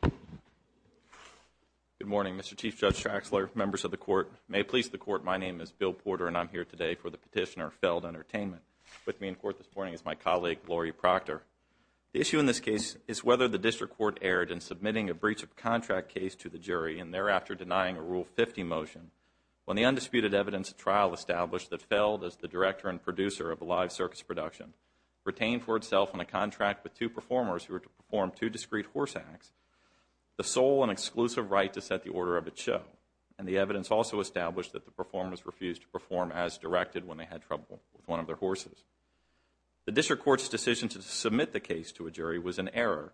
Good morning, Mr. Chief Judge Traxler, members of the Court, and may it please the Court, my name is Bill Porter and I'm here today for the petitioner, Feld Entertainment. With me in court this morning is my colleague, Lori Proctor. The issue in this case is whether the District Court erred in submitting a breach of contract case to the jury and thereafter denying a Rule 50 motion. When the undisputed evidence trial established that Feld, as the director and producer of a contract with two performers who were to perform two discreet horse acts, the sole and exclusive right to set the order of it show, and the evidence also established that the performers refused to perform as directed when they had trouble with one of their horses. The District Court's decision to submit the case to a jury was an error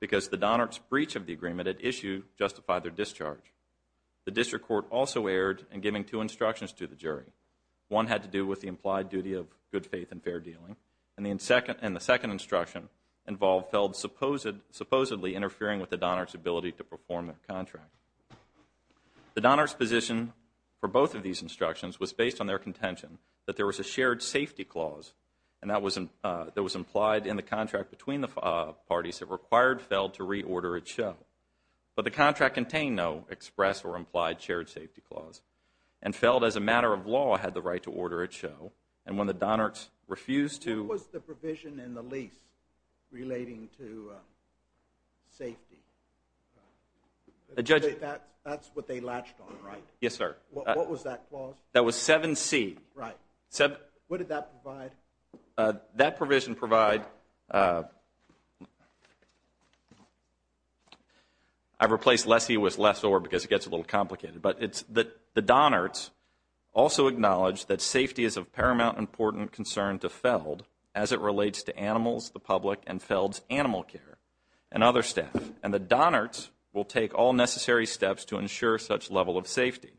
because the Donnert's breach of the agreement at issue justified their discharge. The District Court also erred in giving two instructions to the jury. One had to do with the implied duty of good faith and fair dealing, and the second instruction involved Feld supposedly interfering with the Donnert's ability to perform their contract. The Donnert's position for both of these instructions was based on their contention that there was a shared safety clause that was implied in the contract between the parties that required Feld to reorder its show. But the contract contained no express or implied shared safety clause, and Feld, as a matter of law, had the right to order its show. And when the Donnert's refused to... What was the provision in the lease relating to safety? That's what they latched on, right? Yes, sir. What was that clause? That was 7C. Right. What did that provide? That provision provide, I've replaced lessee with lessor because it gets a little complicated, but it's that the Donnert's also acknowledged that safety is of paramount important concern to Feld as it relates to animals, the public, and Feld's animal care and other staff. And the Donnert's will take all necessary steps to ensure such level of safety.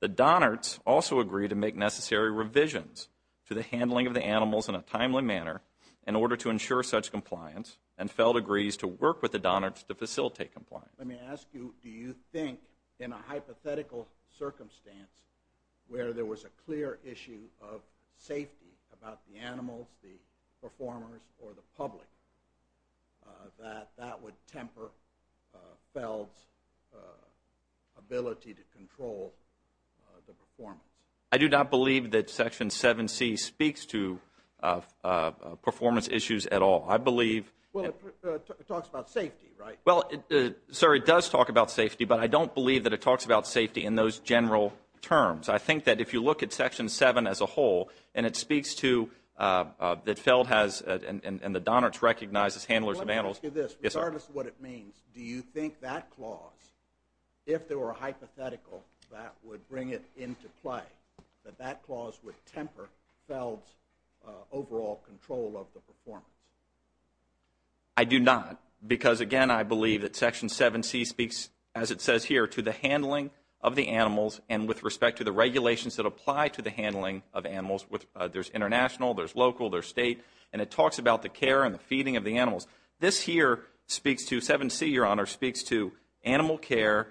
The Donnert's also agree to make necessary revisions to the handling of the animals in a timely manner in order to ensure such compliance, and Feld agrees to work with the Donnert's to facilitate compliance. Let me ask you, do you think, in a hypothetical circumstance where there was a clear issue of safety about the animals, the performers, or the public, that that would temper Feld's ability to control the performance? I do not believe that section 7C speaks to performance issues at all. I believe... Well, it talks about safety, right? Well, sir, it does talk about safety, but I don't believe that it talks about safety in those general terms. I think that if you look at section 7 as a whole, and it speaks to, that Feld has, and the Donnert's recognizes handlers of animals... Let me ask you this, regardless of what it means, do you think that clause, if there were a hypothetical that would bring it into play, that that clause would temper Feld's overall control of the performance? I do not, because, again, I believe that section 7C speaks, as it says here, to the handling of the animals, and with respect to the regulations that apply to the handling of animals. There's international, there's local, there's state, and it talks about the care and the feeding of the animals. This here speaks to, 7C, Your Honor, speaks to animal care,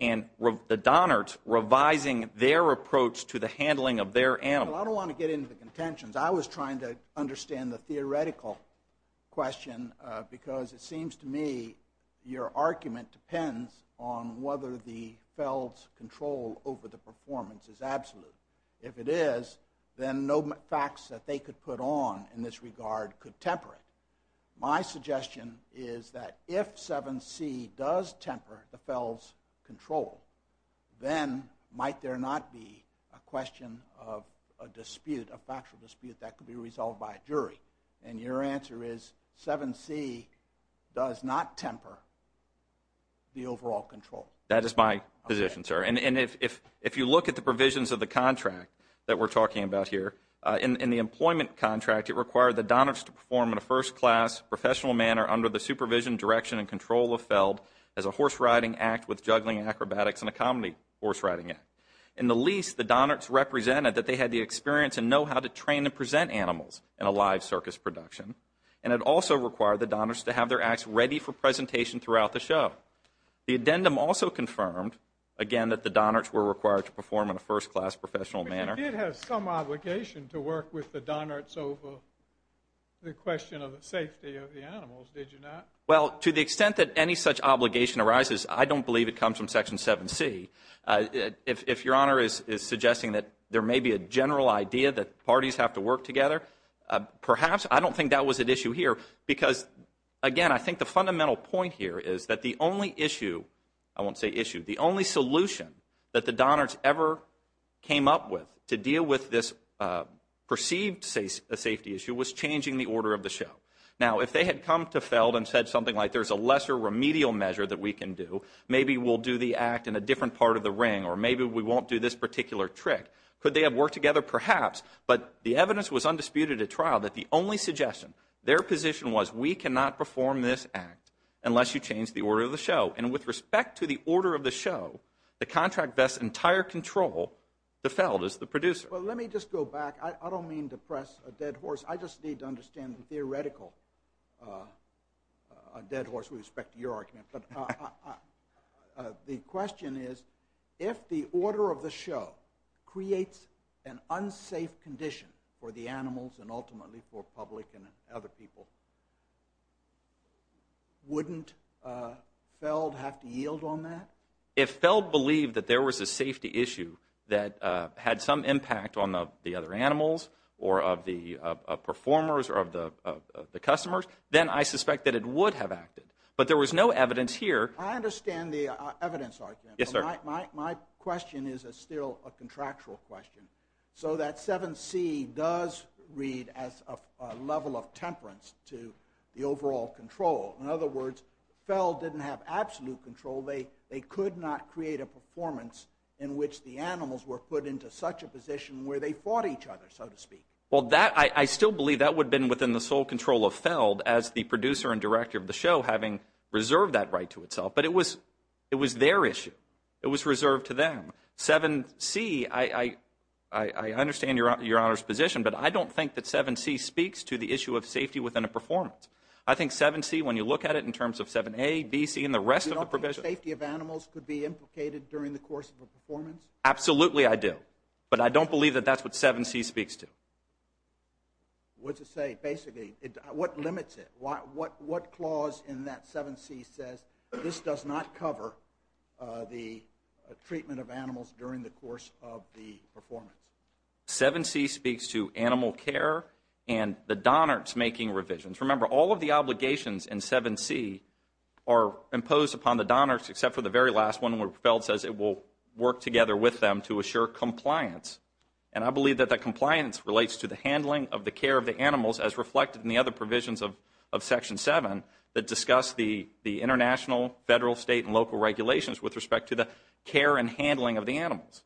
and the Donnert's revising their approach to the handling of their animals. Well, I don't want to get into the contentions. I was trying to understand the theoretical question, because it seems to me your argument depends on whether the Feld's control over the performance is absolute. If it is, then no facts that they could put on in this regard could temper it. My suggestion is that if 7C does temper the Feld's control, then might there not be a dispute, a factual dispute that could be resolved by a jury? And your answer is, 7C does not temper the overall control. That is my position, sir. And if you look at the provisions of the contract that we're talking about here, in the employment contract, it required the Donnert's to perform in a first-class, professional manner under the supervision, direction, and control of Feld as a horse-riding act with juggling acrobatics and a comedy horse-riding act. In the lease, the Donnert's represented that they had the experience and know-how to train and present animals in a live circus production, and it also required the Donnert's to have their acts ready for presentation throughout the show. The addendum also confirmed, again, that the Donnert's were required to perform in a first-class, professional manner. But you did have some obligation to work with the Donnert's over the question of the safety of the animals, did you not? Well, to the extent that any such obligation arises, I don't believe it comes from Section 7C. If Your Honor is suggesting that there may be a general idea that parties have to work together, perhaps. I don't think that was an issue here because, again, I think the fundamental point here is that the only issue, I won't say issue, the only solution that the Donnert's ever came up with to deal with this perceived safety issue was changing the order of the show. Now, if they had come to Feld and said something like, there's a lesser remedial measure that we can do, maybe we'll do the act in a different part of the ring, or maybe we won't do this particular trick, could they have worked together, perhaps? But the evidence was undisputed at trial that the only suggestion, their position was, we cannot perform this act unless you change the order of the show. And with respect to the order of the show, the contract vests entire control to Feld as the producer. Well, let me just go back. I don't mean to press a dead horse. I just need to understand the theoretical dead horse with respect to your argument. The question is, if the order of the show creates an unsafe condition for the animals and ultimately for public and other people, wouldn't Feld have to yield on that? If Feld believed that there was a safety issue that had some impact on the other animals or of the performers or of the customers, then I suspect that it would have acted. But there was no evidence here. I understand the evidence argument. My question is still a contractual question. So that 7C does read as a level of temperance to the overall control. In other words, Feld didn't have absolute control. They could not create a performance in which the animals were put into such a position where they fought each other, so to speak. Well, I still believe that would have been within the sole control of Feld as the producer and director of the show, having reserved that right to itself. But it was their issue. It was reserved to them. 7C, I understand Your Honor's position, but I don't think that 7C speaks to the issue of safety within a performance. I think 7C, when you look at it in terms of 7A, B, C, and the rest of the provision. You don't think safety of animals could be implicated during the course of a performance? Absolutely I do. But I don't believe that that's what 7C speaks to. What's it say, basically? What limits it? What clause in that 7C says this does not cover the treatment of animals during the course of the performance? 7C speaks to animal care and the Donnards making revisions. Remember, all of the obligations in 7C are imposed upon the Donnards except for the very last one where Feld says it will work together with them to assure compliance. And I believe that that compliance relates to the handling of the care of the animals as reflected in the other provisions of Section 7 that discuss the international, federal, state, and local regulations with respect to the care and handling of the animals.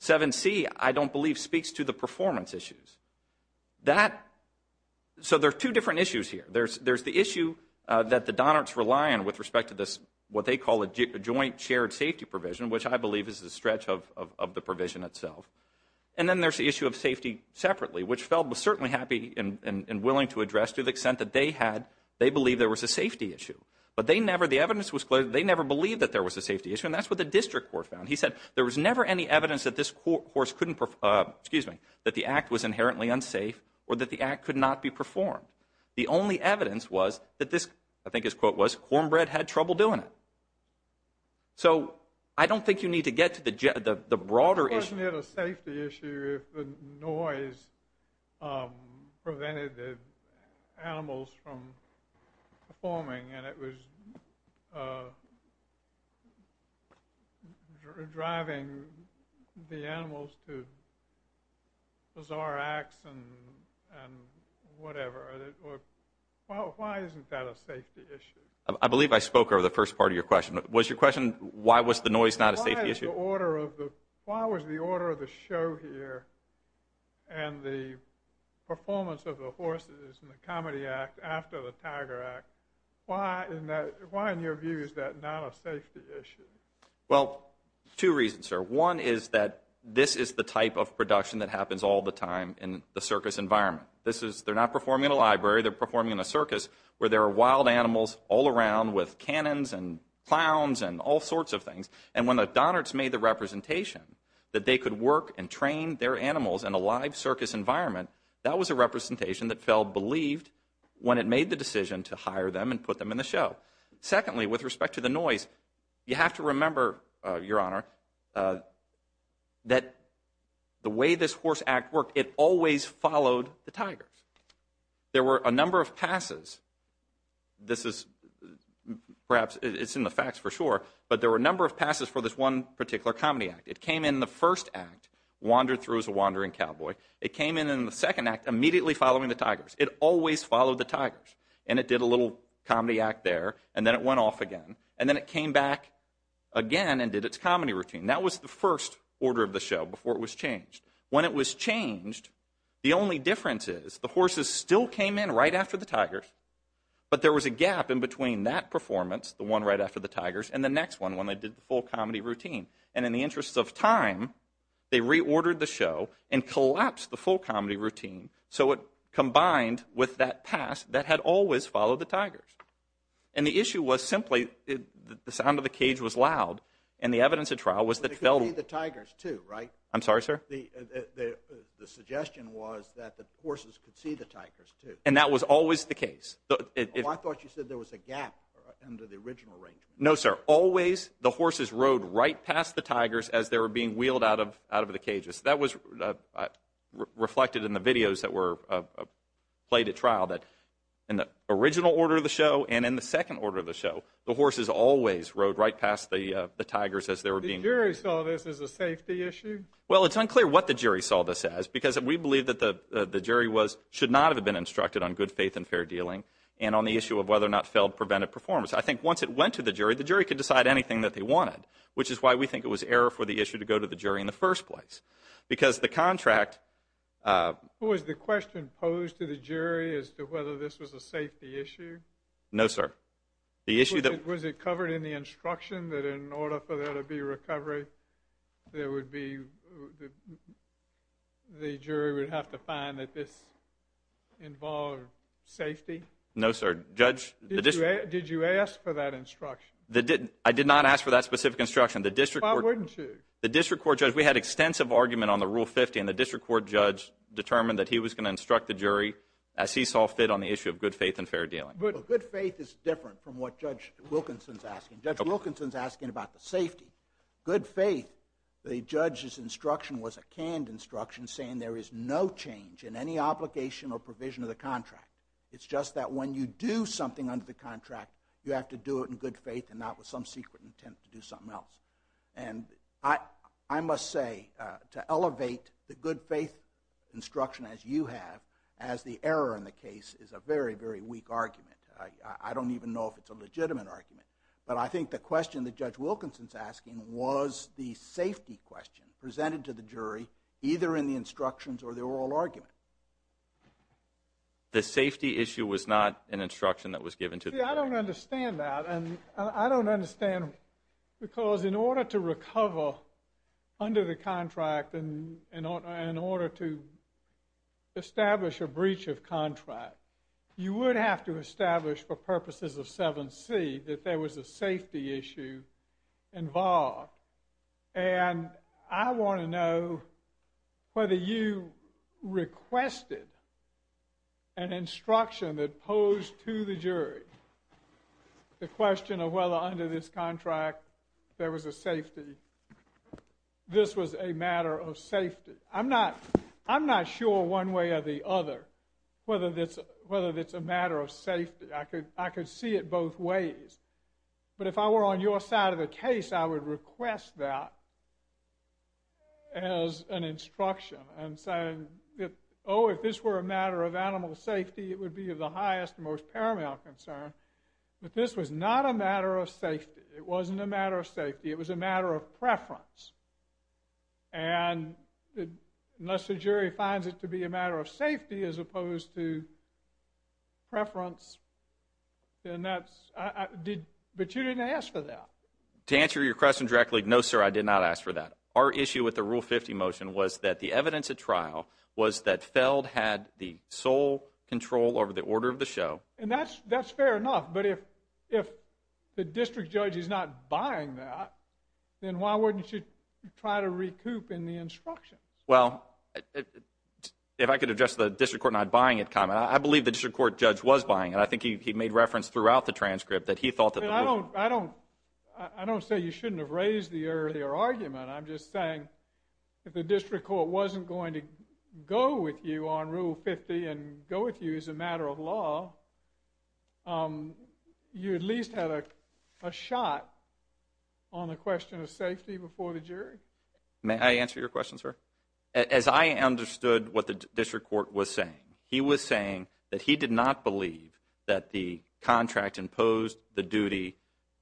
7C, I don't believe, speaks to the performance issues. So there are two different issues here. There's the issue that the Donnards rely on with respect to this, what they call a joint shared safety provision, which I believe is a stretch of the provision itself. And then there's the issue of safety separately, which Feld was certainly happy and willing to address to the extent that they had, they believed there was a safety issue. But they never, the evidence was clear, they never believed that there was a safety issue and that's what the district court found. He said there was never any evidence that this course couldn't, excuse me, that the act was inherently unsafe or that the act could not be performed. The only evidence was that this, I think his quote was, cornbread had trouble doing it. So I don't think you need to get to the broader issue. Wasn't it a safety issue if the noise prevented the animals from performing and it was driving the animals to bizarre acts and whatever? Why isn't that a safety issue? I believe I spoke over the first part of your question. Was your question, why was the noise not a safety issue? Why is the order of the, why was the order of the show here and the performance of the horses in the Comedy Act after the Tiger Act, why in your view is that not a safety issue? Well, two reasons, sir. One is that this is the type of production that happens all the time in the circus environment. This is, they're not performing in a library, they're performing in a circus where there are wild animals all around with cannons and clowns and all sorts of things. And when the Donnards made the representation that they could work and train their animals in a live circus environment, that was a representation that Feld believed when it made the decision to hire them and put them in the show. Secondly, with respect to the noise, you have to remember, Your Honor, that the way this horse act worked, it always followed the tigers. There were a number of passes, this is, perhaps it's in the facts for sure, but there were a number of passes for this one particular Comedy Act. It came in the first act, wandered through as a wandering cowboy. It came in in the second act immediately following the tigers. It always followed the tigers, and it did a little comedy act there, and then it went off again, and then it came back again and did its comedy routine. That was the first order of the show before it was changed. When it was changed, the only difference is the horses still came in right after the tigers, but there was a gap in between that performance, the one right after the tigers, and the next one when they did the full comedy routine. And in the interest of time, they reordered the show and collapsed the full comedy routine so it combined with that pass that had always followed the tigers. And the issue was simply the sound of the cage was loud, and the evidence at trial was that they could see the tigers too, right? I'm sorry, sir? The suggestion was that the horses could see the tigers too. And that was always the case. I thought you said there was a gap under the original arrangement. No, sir. Always the horses rode right past the tigers as they were being wheeled out of the cages. That was reflected in the videos that were played at trial that in the original order of the show and in the second order of the show, the horses always rode right past the tigers as they were being The jury saw this as a safety issue? Well, it's unclear what the jury saw this as because we believe that the jury should not have been instructed on good faith and fair dealing and on the issue of whether or not failed preventive performance. I think once it went to the jury, the jury could decide anything that they wanted, which is why we think it was error for the issue to go to the jury in the first place. Because the contract Was the question posed to the jury as to whether this was a safety issue? No, sir. Was it covered in the instruction that in order for there to be recovery, the jury would have to find that this involved safety? No, sir. Did you ask for that instruction? I did not ask for that specific instruction. Why wouldn't you? The district court judge, we had extensive argument on the Rule 50, and the district court judge determined that he was going to instruct the jury as he saw fit on the issue of good faith and fair dealing. Good faith is different from what Judge Wilkinson is asking. Judge Wilkinson is asking about the safety. Good faith, the judge's instruction was a canned instruction saying there is no change in any obligation or provision of the contract. It's just that when you do something under the contract, you have to do it in good faith and not with some secret intent to do something else. And I must say to elevate the good faith instruction as you have as the error in the case is a very, very weak argument. I don't even know if it's a legitimate argument. But I think the question that Judge Wilkinson is asking was the safety question presented to the jury either in the instructions or the oral argument. See, I don't understand that, and I don't understand because in order to recover under the contract and in order to establish a breach of contract, you would have to establish for purposes of 7C that there was a safety issue involved. And I want to know whether you requested an instruction that posed to the jury the question of whether under this contract there was a safety, this was a matter of safety. I'm not sure one way or the other whether it's a matter of safety. I could see it both ways. But if I were on your side of the case, I would request that as an instruction and say, oh, if this were a matter of animal safety, it would be of the highest and most paramount concern. But this was not a matter of safety. It wasn't a matter of safety. It was a matter of preference. And unless the jury finds it to be a matter of safety as opposed to preference, then that's – but you didn't ask for that. To answer your question directly, no, sir, I did not ask for that. Our issue with the Rule 50 motion was that the evidence at trial was that Feld had the sole control over the order of the show. And that's fair enough. But if the district judge is not buying that, then why wouldn't you try to recoup in the instructions? Well, if I could address the district court not buying it comment, I believe the district court judge was buying it. I think he made reference throughout the transcript that he thought that the ruling I don't say you shouldn't have raised the earlier argument. I'm just saying if the district court wasn't going to go with you on Rule 50 and go with you as a matter of law, you at least had a shot on the question of safety before the jury. May I answer your question, sir? As I understood what the district court was saying, he was saying that he did not believe that the contract imposed the duty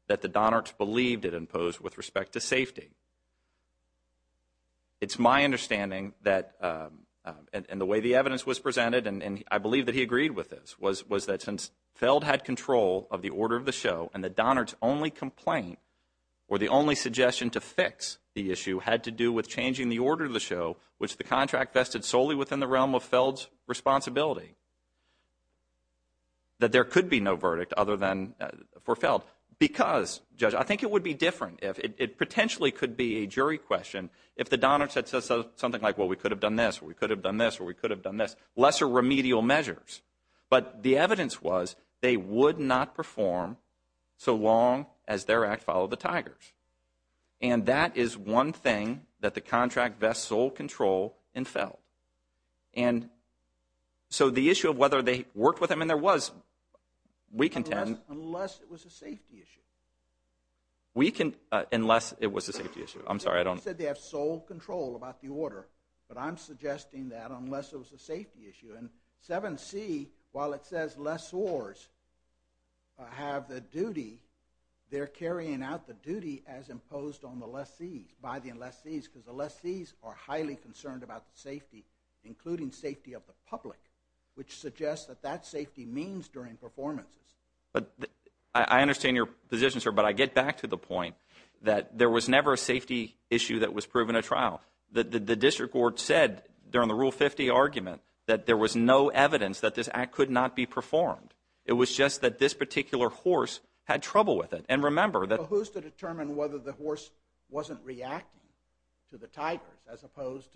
that the Donards believed it imposed with respect to safety. It's my understanding that in the way the evidence was presented, and I believe that he agreed with this, was that since Feld had control of the order of the show and the Donards' only complaint or the only suggestion to fix the issue had to do with changing the order of the show, which the contract vested solely within the realm of Feld's responsibility, that there could be no verdict other than for Feld. Because, Judge, I think it would be different. It potentially could be a jury question if the Donards had said something like, well, we could have done this, or we could have done this, or we could have done this, lesser remedial measures. But the evidence was they would not perform so long as their act followed the Tigers. And that is one thing that the contract vests sole control in Feld. And so the issue of whether they worked with him, and there was, we contend. Unless it was a safety issue. Unless it was a safety issue. I'm sorry. They said they have sole control about the order, but I'm suggesting that unless it was a safety issue. And 7C, while it says lessors have the duty, they're carrying out the duty as imposed on the lessees, by the lessees, because the lessees are highly concerned about the safety, including safety of the public, which suggests that that safety means during performances. I understand your position, sir, but I get back to the point that there was never a safety issue that was proven at trial. The district court said during the Rule 50 argument that there was no evidence that this act could not be performed. It was just that this particular horse had trouble with it. And remember that. Who's to determine whether the horse wasn't reacting to the Tigers as opposed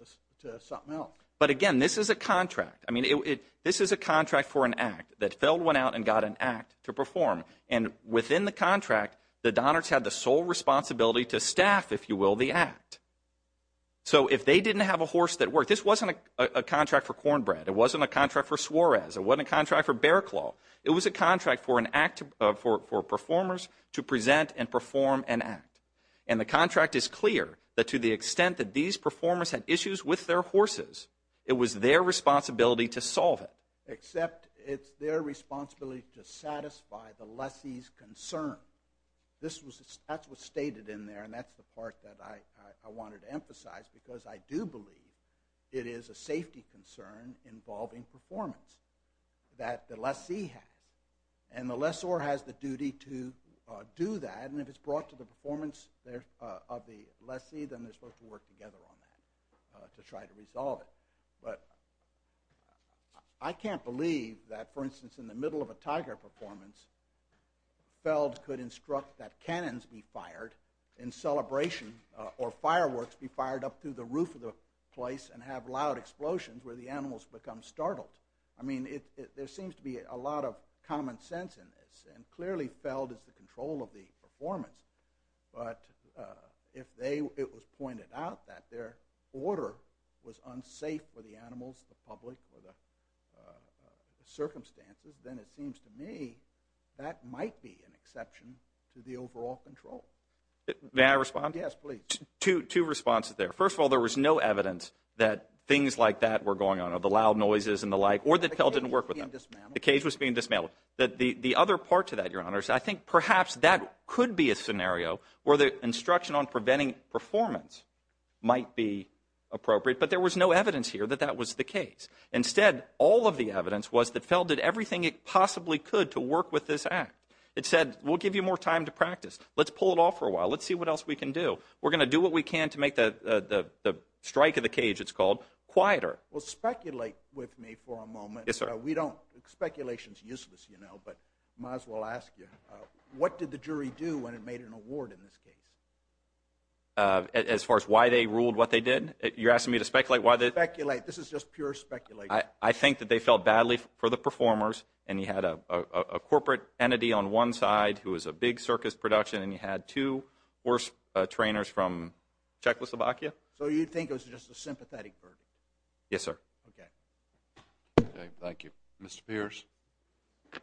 to something else? But again, this is a contract. I mean, this is a contract for an act that Feld went out and got an act to perform. And within the contract, the Donnards had the sole responsibility to staff, if you will, the act. So if they didn't have a horse that worked, this wasn't a contract for Cornbread. It wasn't a contract for Suarez. It wasn't a contract for Bearclaw. It was a contract for performers to present and perform an act. And the contract is clear that to the extent that these performers had issues with their horses, it was their responsibility to solve it. Except it's their responsibility to satisfy the lessee's concern. That's what's stated in there, and that's the part that I wanted to emphasize, because I do believe it is a safety concern involving performance that the lessee has. And the lessor has the duty to do that, and if it's brought to the performance of the lessee, then they're supposed to work together on that to try to resolve it. But I can't believe that, for instance, in the middle of a Tiger performance, Feld could instruct that cannons be fired in celebration, or fireworks be fired up through the roof of the place and have loud explosions where the animals become startled. I mean, there seems to be a lot of common sense in this, and clearly Feld is the control of the performance. But if it was pointed out that their order was unsafe for the animals, the public, or the circumstances, then it seems to me that might be an exception to the overall control. May I respond? Yes, please. Two responses there. First of all, there was no evidence that things like that were going on, or the loud noises and the like, or that Feld didn't work with them. The cage was being dismantled. The cage was being dismantled. The other part to that, Your Honors, I think perhaps that could be a scenario where the instruction on preventing performance might be appropriate, but there was no evidence here that that was the case. Instead, all of the evidence was that Feld did everything it possibly could to work with this act. It said, we'll give you more time to practice. Let's pull it off for a while. Let's see what else we can do. We're going to do what we can to make the strike of the cage, it's called, quieter. Well, speculate with me for a moment. Yes, sir. Speculation is useless, you know, but might as well ask you, what did the jury do when it made an award in this case? As far as why they ruled what they did? You're asking me to speculate? Speculate. This is just pure speculation. I think that they felt badly for the performers, and you had a corporate entity on one side who was a big circus production, and you had two horse trainers from Czechoslovakia. So you think it was just a sympathetic verdict? Yes, sir. Okay. Thank you. Mr. Pierce. Good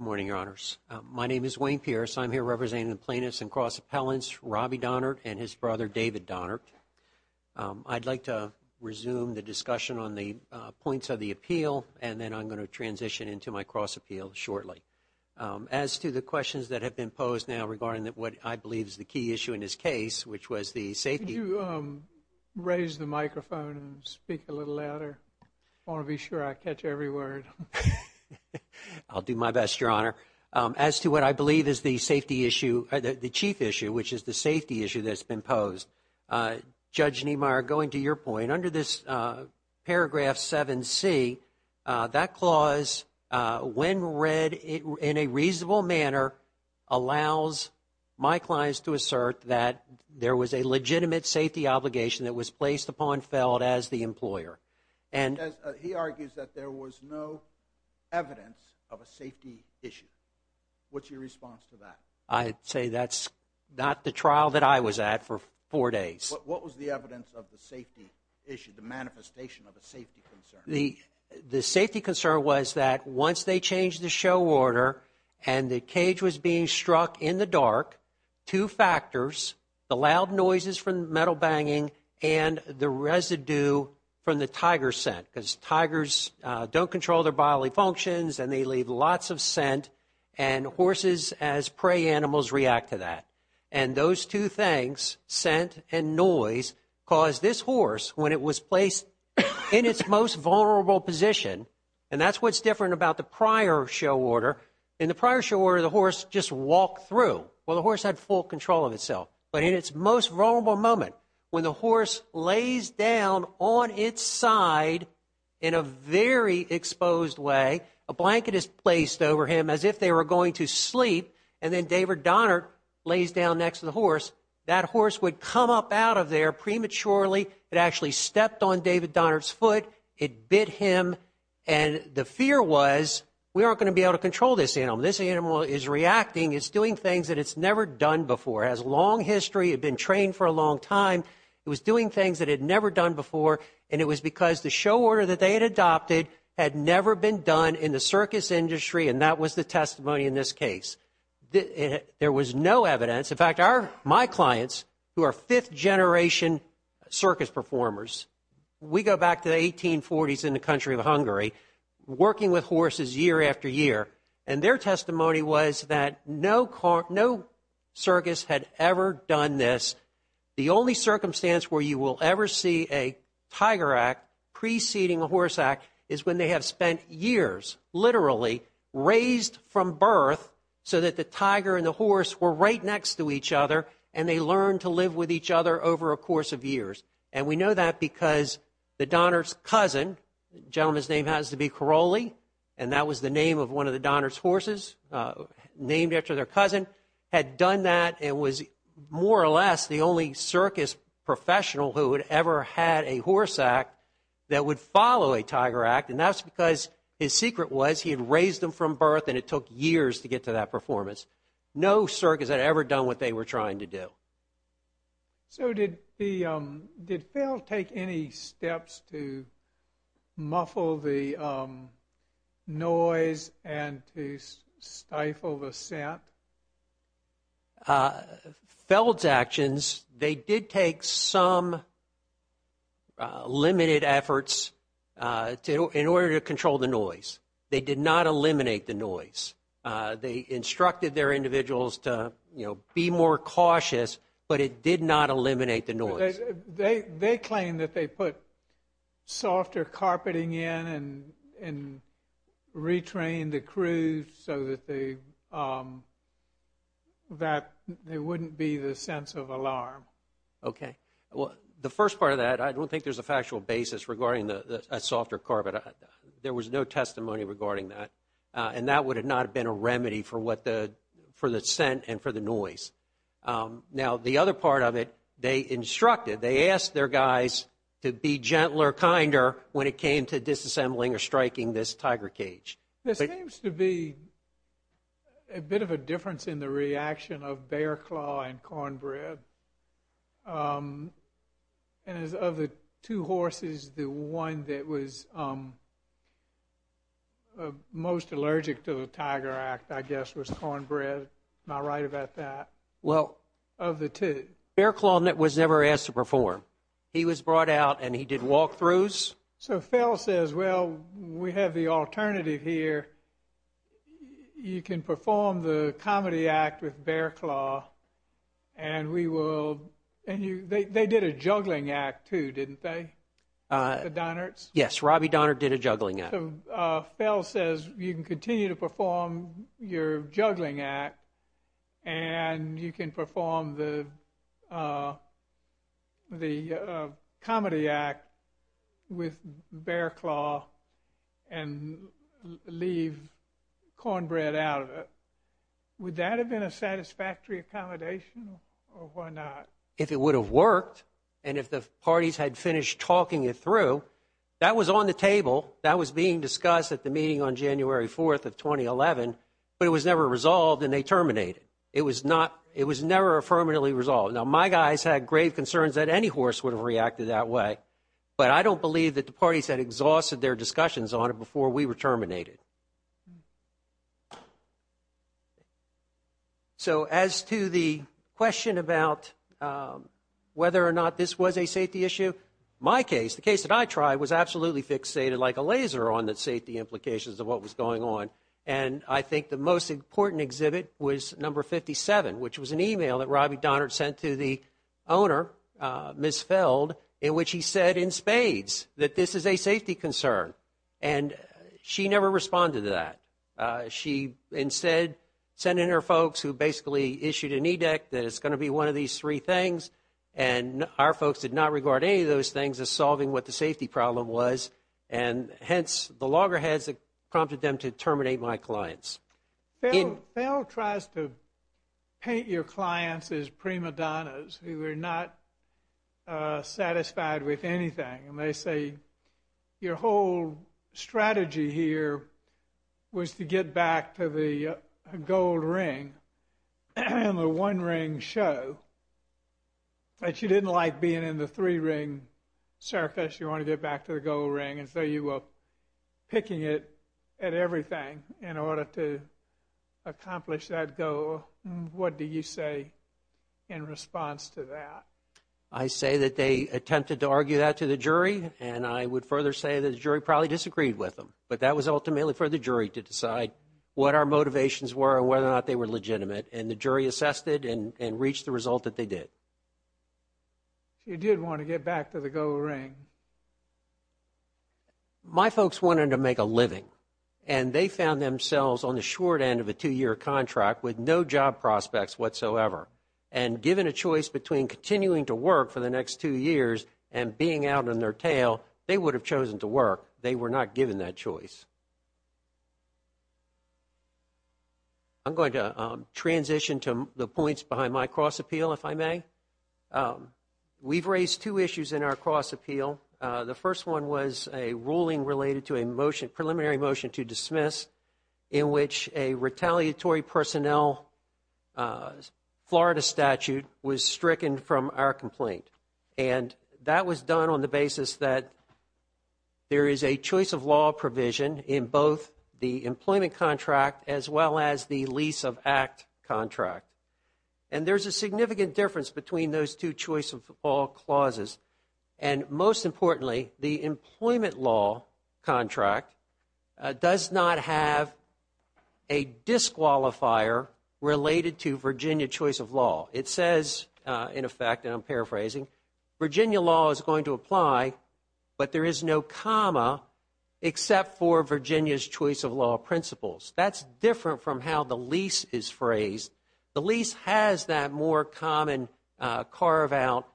morning, Your Honors. My name is Wayne Pierce. I'm here representing the plaintiffs and cross appellants, Robbie Donnard and his brother, David Donnard. I'd like to resume the discussion on the points of the appeal, and then I'm going to transition into my cross appeal shortly. As to the questions that have been posed now regarding what I believe is the key issue in this case, which was the safety. Could you raise the microphone and speak a little louder? I want to be sure I catch every word. I'll do my best, Your Honor. As to what I believe is the safety issue, the chief issue, which is the safety issue that's been posed, Judge Niemeyer, going to your point, under this paragraph 7C, that clause when read in a reasonable manner allows my clients to assert that there was a legitimate safety obligation that was placed upon Feld as the employer. He argues that there was no evidence of a safety issue. What's your response to that? I'd say that's not the trial that I was at for four days. What was the evidence of the safety issue, the manifestation of a safety concern? The safety concern was that once they changed the show order and the cage was being struck in the dark, two factors, the loud noises from the metal banging and the residue from the tiger scent, because tigers don't control their bodily functions and they leave lots of scent, and horses, as prey animals, react to that. And those two things, scent and noise, caused this horse, when it was placed in its most vulnerable position, and that's what's different about the prior show order, in the prior show order the horse just walked through. Well, the horse had full control of itself. But in its most vulnerable moment, when the horse lays down on its side in a very exposed way, a blanket is placed over him as if they were going to sleep, and then David Donnard lays down next to the horse, that horse would come up out of there prematurely. It actually stepped on David Donnard's foot. It bit him. And the fear was, we aren't going to be able to control this animal. This animal is reacting. It's doing things that it's never done before. It has a long history. It had been trained for a long time. It was doing things that it had never done before, and it was because the show order that they had adopted had never been done in the circus industry, and that was the testimony in this case. There was no evidence. In fact, my clients, who are fifth-generation circus performers, we go back to the 1840s in the country of Hungary, working with horses year after year, and their testimony was that no circus had ever done this. The only circumstance where you will ever see a Tiger Act preceding a horse act is when they have spent years, literally, raised from birth so that the tiger and the horse were right next to each other, and they learned to live with each other over a course of years. And we know that because the Donnard's cousin, the gentleman's name happens to be Caroli, and that was the name of one of the Donnard's horses, named after their cousin, had done that and was more or less the only circus professional who had ever had a horse act that would follow a Tiger Act, and that's because his secret was he had raised them from birth, and it took years to get to that performance. No circus had ever done what they were trying to do. So did the, did Feld take any steps to muffle the noise and to stifle the scent? Feld's actions, they did take some limited efforts in order to control the noise. They did not eliminate the noise. They instructed their individuals to, you know, be more cautious, but it did not eliminate the noise. They claimed that they put softer carpeting in and retrained the crew so that they, that there wouldn't be the sense of alarm. Okay. Well, the first part of that, I don't think there's a factual basis regarding a softer carpet. There was no testimony regarding that, and that would have not been a remedy for what the, for the scent and for the noise. Now, the other part of it, they instructed, they asked their guys to be gentler, kinder when it came to disassembling or striking this tiger cage. There seems to be a bit of a difference in the reaction of bear claw and cornbread. And as of the two horses, the one that was most allergic to the Tiger Act, I guess, was cornbread. Am I right about that? Well. Of the two. Bear claw was never asked to perform. He was brought out and he did walk-throughs. So Fell says, well, we have the alternative here. You can perform the comedy act with bear claw and we will, and you, they did a juggling act too, didn't they? The Donnerts? Yes, Robbie Donnert did a juggling act. So Fell says you can continue to perform your juggling act and you can perform the comedy act with bear claw and leave cornbread out of it. Would that have been a satisfactory accommodation or why not? If it would have worked and if the parties had finished talking it through, that was on the table. That was being discussed at the meeting on January 4th of 2011, but it was never resolved and they terminated. It was not, it was never affirmatively resolved. Now, my guys had grave concerns that any horse would have reacted that way, but I don't believe that the parties had exhausted their discussions on it before we were terminated. So as to the question about whether or not this was a safety issue, my case, the case that I tried, was absolutely fixated like a laser on the safety implications of what was going on. And I think the most important exhibit was number 57, which was an e-mail that Robbie Donnert sent to the owner, Ms. Feld, in which he said in spades that this is a safety concern. And she never responded to that. She instead sent in her folks who basically issued an edict that it's going to be one of these three things, and our folks did not regard any of those things as solving what the safety problem was, and hence the loggerheads that prompted them to terminate my clients. Feld tries to paint your clients as prima donnas who are not satisfied with anything. And they say your whole strategy here was to get back to the gold ring, the one ring show, that you didn't like being in the three ring circus, you want to get back to the gold ring, and so you were picking it at everything in order to accomplish that goal. What do you say in response to that? I say that they attempted to argue that to the jury, and I would further say that the jury probably disagreed with them, but that was ultimately for the jury to decide what our motivations were and whether or not they were legitimate, and the jury assessed it and reached the result that they did. You did want to get back to the gold ring. My folks wanted to make a living, and they found themselves on the short end of a two-year contract with no job prospects whatsoever, and given a choice between continuing to work for the next two years and being out on their tail, they would have chosen to work. They were not given that choice. I'm going to transition to the points behind my cross-appeal, if I may. We've raised two issues in our cross-appeal. The first one was a ruling related to a motion, preliminary motion to dismiss, in which a retaliatory personnel Florida statute was stricken from our complaint, and that was done on the basis that there is a choice of law provision in both the employment contract as well as the lease of act contract, and there's a significant difference between those two choice of all clauses, and most importantly, the employment law contract does not have a disqualifier related to Virginia choice of law. It says, in effect, and I'm paraphrasing, Virginia law is going to apply, but there is no comma except for Virginia's choice of law principles. That's different from how the lease is phrased. The lease has that more common carve-out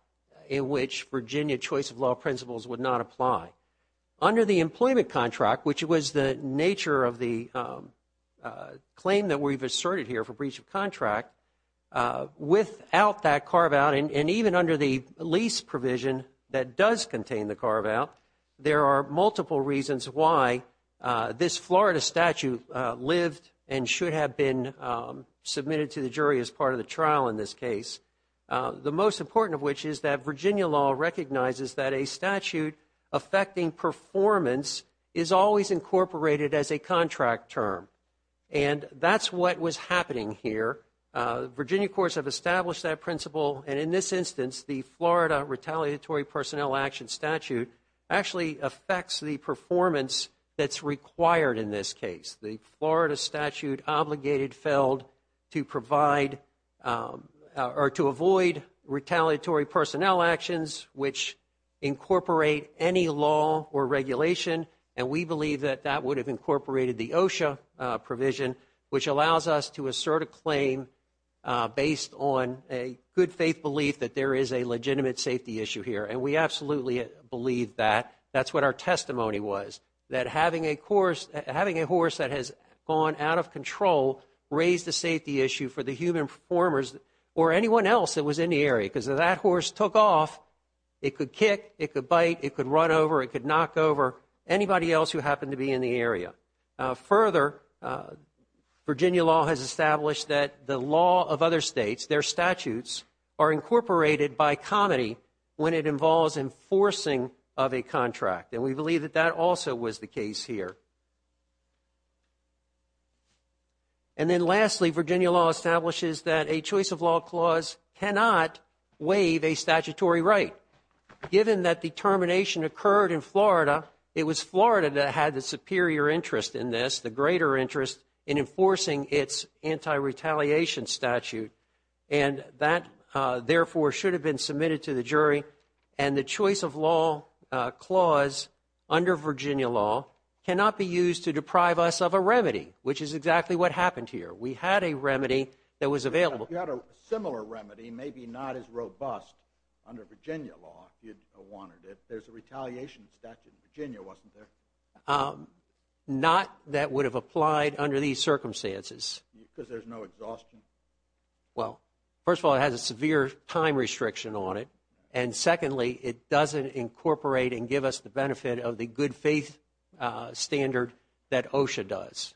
in which Virginia choice of law principles would not apply. Under the employment contract, which was the nature of the claim that we've asserted here for breach of contract, without that carve-out, and even under the lease provision that does contain the carve-out, there are multiple reasons why this Florida statute lived and should have been submitted to the jury as part of the trial in this case. The most important of which is that Virginia law recognizes that a statute affecting performance is always incorporated as a contract term, and that's what was happening here. Virginia courts have established that principle, and in this instance, the Florida retaliatory personnel action statute actually affects the performance that's required in this case. The Florida statute obligated Feld to provide or to avoid retaliatory personnel actions, which incorporate any law or regulation, and we believe that that would have incorporated the OSHA provision, which allows us to assert a claim based on a good faith belief that there is a legitimate safety issue here, and we absolutely believe that. That's what our testimony was, that having a horse that has gone out of control raised a safety issue for the human performers or anyone else that was in the area, because if that horse took off, it could kick, it could bite, it could run over, it could knock over anybody else who happened to be in the area. Further, Virginia law has established that the law of other states, their statutes, are incorporated by comedy when it involves enforcing of a contract, and we believe that that also was the case here. And then lastly, Virginia law establishes that a choice of law clause cannot waive a statutory right. Given that the termination occurred in Florida, it was Florida that had the superior interest in this, the greater interest in enforcing its anti-retaliation statute, and that therefore should have been submitted to the jury, and the choice of law clause under Virginia law cannot be used to deprive us of a remedy, which is exactly what happened here. We had a remedy that was available. You had a similar remedy, maybe not as robust under Virginia law if you wanted it. There's a retaliation statute in Virginia, wasn't there? Not that would have applied under these circumstances. Because there's no exhaustion? Well, first of all, it has a severe time restriction on it, and secondly, it doesn't incorporate and give us the benefit of the good faith standard that OSHA does.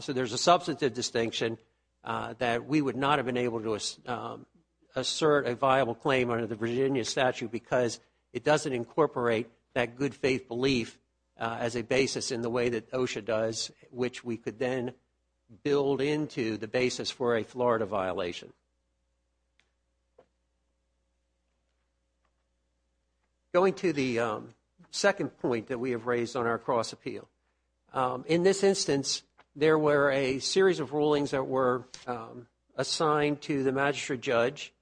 So there's a substantive distinction that we would not have been able to assert a viable claim under the Virginia statute because it doesn't incorporate that good faith belief as a basis in the way that OSHA does, which we could then build into the basis for a Florida violation. Going to the second point that we have raised on our cross appeal. In this instance, there were a series of rulings that were assigned to the magistrate judge,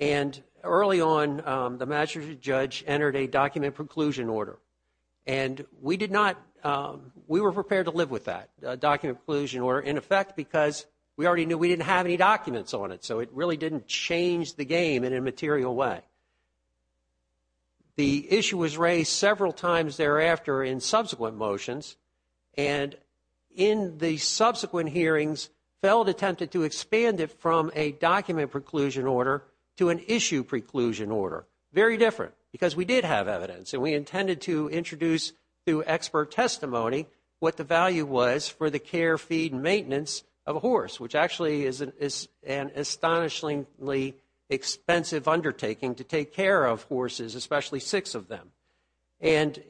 and early on the magistrate judge entered a document preclusion order, and we were prepared to live with that document preclusion order, in effect, because we already knew we didn't have any documents on it, so it really didn't change the game in a material way. The issue was raised several times thereafter in subsequent motions, and in the subsequent hearings, Feld attempted to expand it from a document preclusion order to an issue preclusion order. Very different, because we did have evidence, and we intended to introduce to expert testimony what the value was for the care, feed, especially six of them. And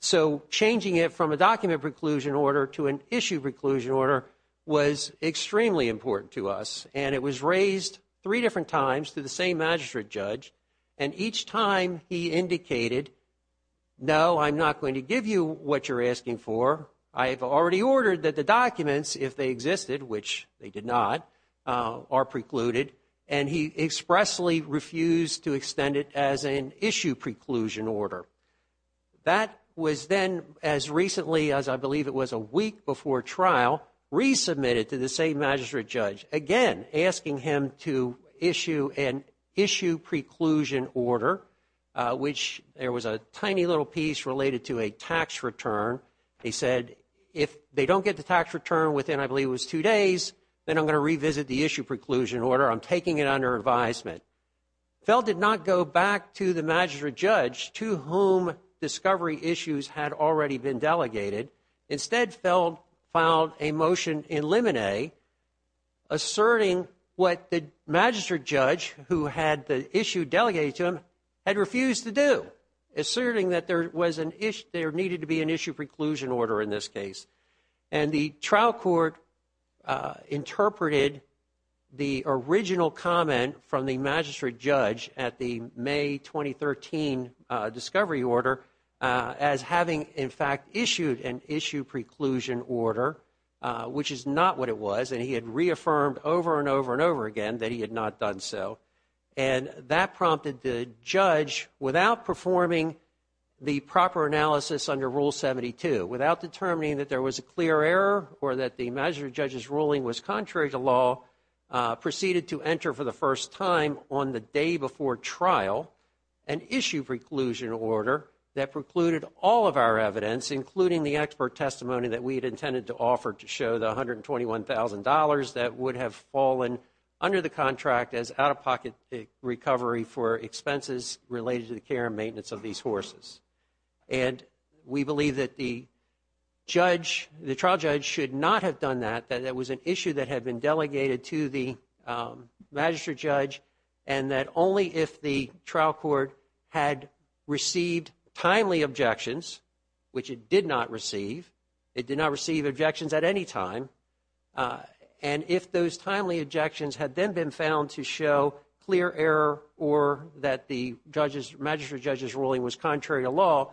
so changing it from a document preclusion order to an issue preclusion order was extremely important to us, and it was raised three different times to the same magistrate judge, and each time he indicated, no, I'm not going to give you what you're asking for. I have already ordered that the documents, if they existed, which they did not, are precluded, and he expressly refused to extend it as an issue preclusion order. That was then, as recently as I believe it was a week before trial, resubmitted to the same magistrate judge, again asking him to issue an issue preclusion order, which there was a tiny little piece related to a tax return. He said, if they don't get the tax return within, I believe it was two days, then I'm going to revisit the issue preclusion order. I'm taking it under advisement. Feld did not go back to the magistrate judge to whom discovery issues had already been delegated. Instead, Feld filed a motion in limine asserting what the magistrate judge, who had the issue delegated to him, had refused to do, asserting that there needed to be an issue preclusion order in this case. And the trial court interpreted the original comment from the magistrate judge at the May 2013 discovery order as having, in fact, issued an issue preclusion order, which is not what it was, and he had reaffirmed over and over and over again that he had not done so. And that prompted the judge, without performing the proper analysis under Rule 72, without determining that there was a clear error or that the magistrate judge's ruling was contrary to law, proceeded to enter for the first time on the day before trial an issue preclusion order that precluded all of our evidence, including the expert testimony that we had intended to offer to show the $121,000 that would have fallen under the contract as out-of-pocket recovery for expenses related to the care and maintenance of these horses. And we believe that the trial judge should not have done that, that it was an issue that had been delegated to the magistrate judge and that only if the trial court had received timely objections, which it did not receive, it did not receive objections at any time, and if those timely objections had then been found to show clear error or that the magistrate judge's ruling was contrary to law,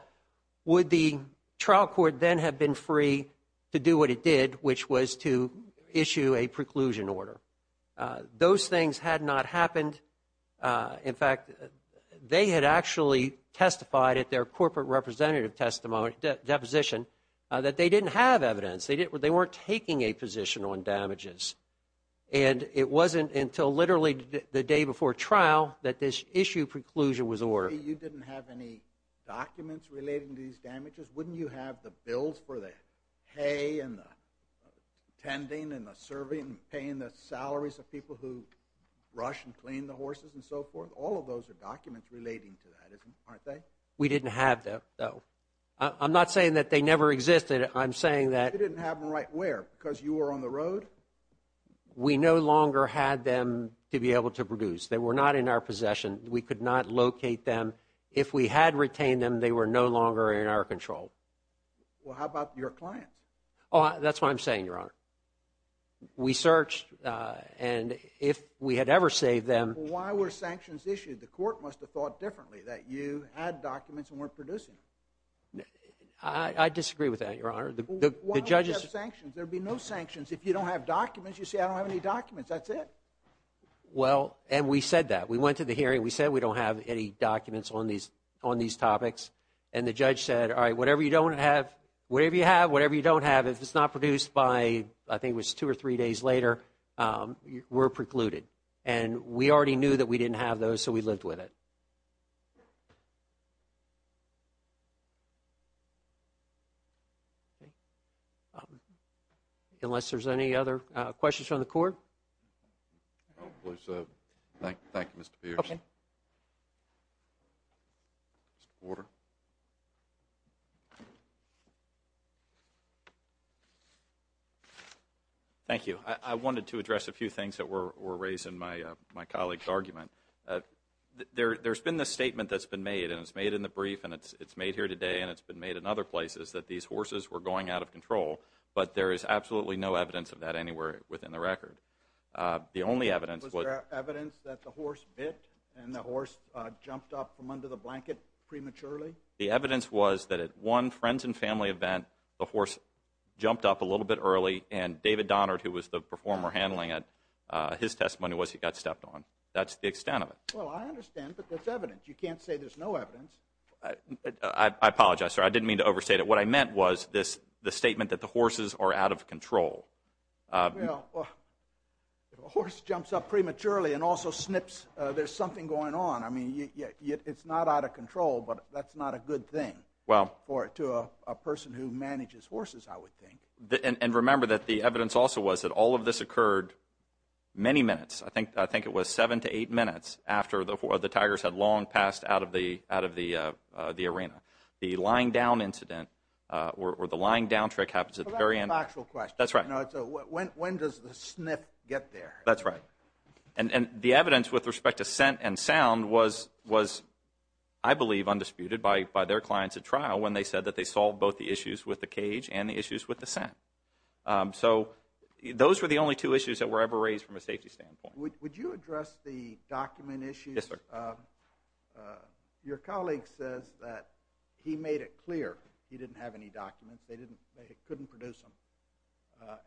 would the trial court then have been free to do what it did, which was to issue a preclusion order. Those things had not happened. In fact, they had actually testified at their corporate representative deposition that they didn't have evidence, they weren't taking a position on damages. And it wasn't until literally the day before trial that this issue preclusion was ordered. You didn't have any documents relating to these damages? Wouldn't you have the bills for the hay and the tending and the serving, paying the salaries of people who rush and clean the horses and so forth? All of those are documents relating to that, aren't they? We didn't have them, though. I'm not saying that they never existed. You didn't have them right where, because you were on the road? We no longer had them to be able to produce. They were not in our possession. We could not locate them. If we had retained them, they were no longer in our control. Well, how about your clients? That's what I'm saying, Your Honor. We searched, and if we had ever saved them— Why were sanctions issued? The court must have thought differently, that you had documents and weren't producing them. I disagree with that, Your Honor. Why don't you have sanctions? There would be no sanctions if you don't have documents. You say, I don't have any documents. That's it. Well, and we said that. We went to the hearing. We said we don't have any documents on these topics. And the judge said, all right, whatever you have, whatever you don't have, if it's not produced by, I think it was two or three days later, we're precluded. And we already knew that we didn't have those, so we lived with it. Okay. Unless there's any other questions from the court? No, please. Thank you, Mr. Pierce. Okay. Mr. Porter. Thank you. I wanted to address a few things that were raised in my colleague's argument. And it's been made in other places that these horses were going out of control. But there is absolutely no evidence of that anywhere within the record. The only evidence was the horse bit and the horse jumped up from under the blanket prematurely? The evidence was that at one friends and family event, the horse jumped up a little bit early, and David Donard, who was the performer handling it, his testimony was he got stepped on. That's the extent of it. Well, I understand, but there's evidence. But you can't say there's no evidence. I apologize, sir. I didn't mean to overstate it. What I meant was the statement that the horses are out of control. Well, if a horse jumps up prematurely and also snips, there's something going on. I mean, it's not out of control, but that's not a good thing to a person who manages horses, I would think. And remember that the evidence also was that all of this occurred many minutes. I think it was seven to eight minutes after the tigers had long passed out of the arena. The lying down incident or the lying down trick happens at the very end. Well, that's an actual question. That's right. When does the sniff get there? That's right. And the evidence with respect to scent and sound was, I believe, undisputed by their clients at trial when they said that they solved both the issues with the cage and the issues with the scent. So those were the only two issues that were ever raised from a safety standpoint. Would you address the document issues? Yes, sir. Your colleague says that he made it clear he didn't have any documents. They couldn't produce them,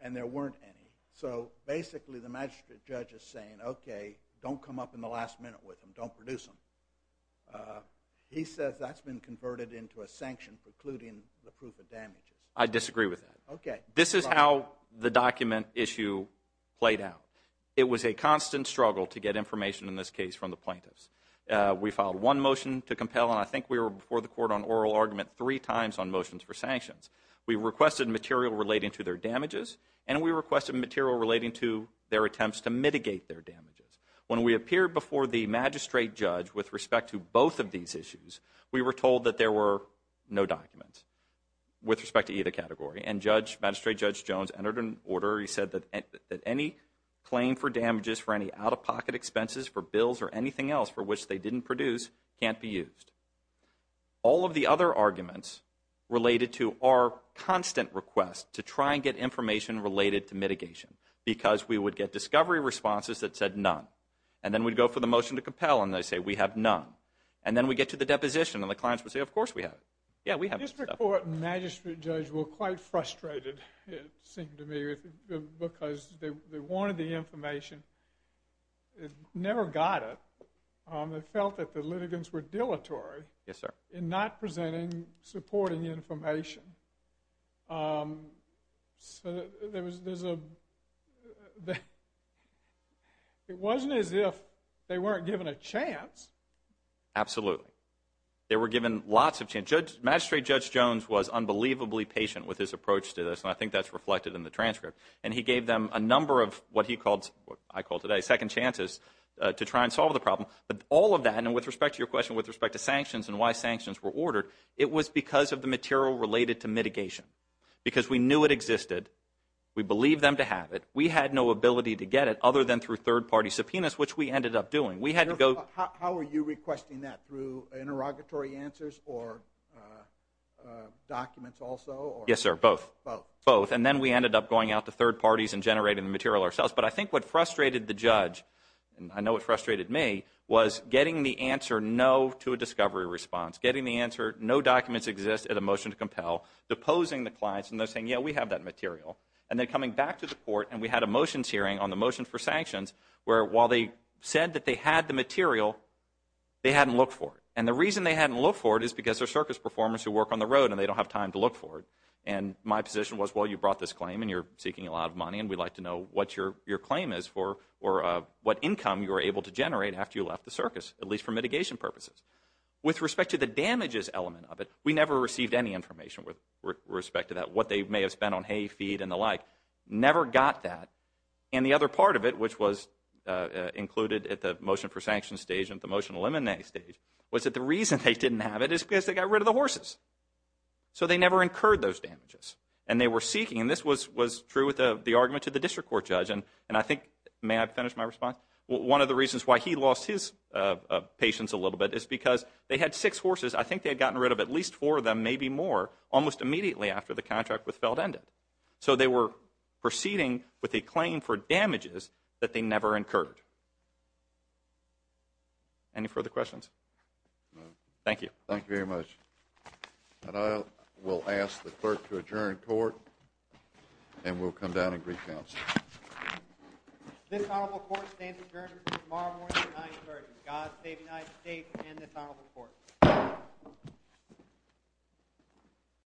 and there weren't any. So basically the magistrate judge is saying, okay, don't come up in the last minute with them. Don't produce them. He says that's been converted into a sanction precluding the proof of damages. I disagree with that. Okay. This is how the document issue played out. It was a constant struggle to get information in this case from the plaintiffs. We filed one motion to compel, and I think we were before the court on oral argument three times on motions for sanctions. We requested material relating to their damages, and we requested material relating to their attempts to mitigate their damages. When we appeared before the magistrate judge with respect to both of these issues, we were told that there were no documents with respect to either category, and magistrate judge Jones entered an order. He said that any claim for damages for any out-of-pocket expenses for bills or anything else for which they didn't produce can't be used. All of the other arguments related to our constant request to try and get information related to mitigation because we would get discovery responses that said none, and then we'd go for the motion to compel, and they'd say we have none. And then we'd get to the deposition, and the clients would say, of course we have. Yeah, we have stuff. The district court and magistrate judge were quite frustrated, it seemed to me, because they wanted the information, never got it. They felt that the litigants were dilatory in not presenting supporting information. So it wasn't as if they weren't given a chance. Absolutely. They were given lots of chances. Magistrate judge Jones was unbelievably patient with his approach to this, and I think that's reflected in the transcript. And he gave them a number of what I call today second chances to try and solve the problem. But all of that, and with respect to your question with respect to sanctions and why sanctions were ordered, it was because of the material related to mitigation. Because we knew it existed. We believed them to have it. We had no ability to get it other than through third-party subpoenas, which we ended up doing. How were you requesting that, through interrogatory answers or documents also? Yes, sir, both. Both. And then we ended up going out to third parties and generating the material ourselves. But I think what frustrated the judge, and I know it frustrated me, was getting the answer no to a discovery response, getting the answer no documents exist at a motion to compel, deposing the clients and them saying, yeah, we have that material, and then coming back to the court and we had a motions hearing on the motion for sanctions where while they said that they had the material, they hadn't looked for it. And the reason they hadn't looked for it is because they're circus performers who work on the road and they don't have time to look for it. And my position was, well, you brought this claim and you're seeking a lot of money and we'd like to know what your claim is or what income you were able to generate after you left the circus, at least for mitigation purposes. With respect to the damages element of it, we never received any information with respect to that, what they may have spent on hay, feed, and the like. Never got that. And the other part of it, which was included at the motion for sanctions stage and at the motion to eliminate stage, was that the reason they didn't have it is because they got rid of the horses. So they never incurred those damages. And they were seeking, and this was true with the argument to the district court judge, and I think, may I finish my response? One of the reasons why he lost his patience a little bit is because they had six horses. I think they had gotten rid of at least four of them, maybe more, almost immediately after the contract with Feld ended. So they were proceeding with a claim for damages that they never incurred. Any further questions? Thank you. Thank you very much. And I will ask the clerk to adjourn court, and we'll come down and brief counsel. This honorable court stands adjourned until tomorrow morning at 9 o'clock. God save the United States and this honorable court.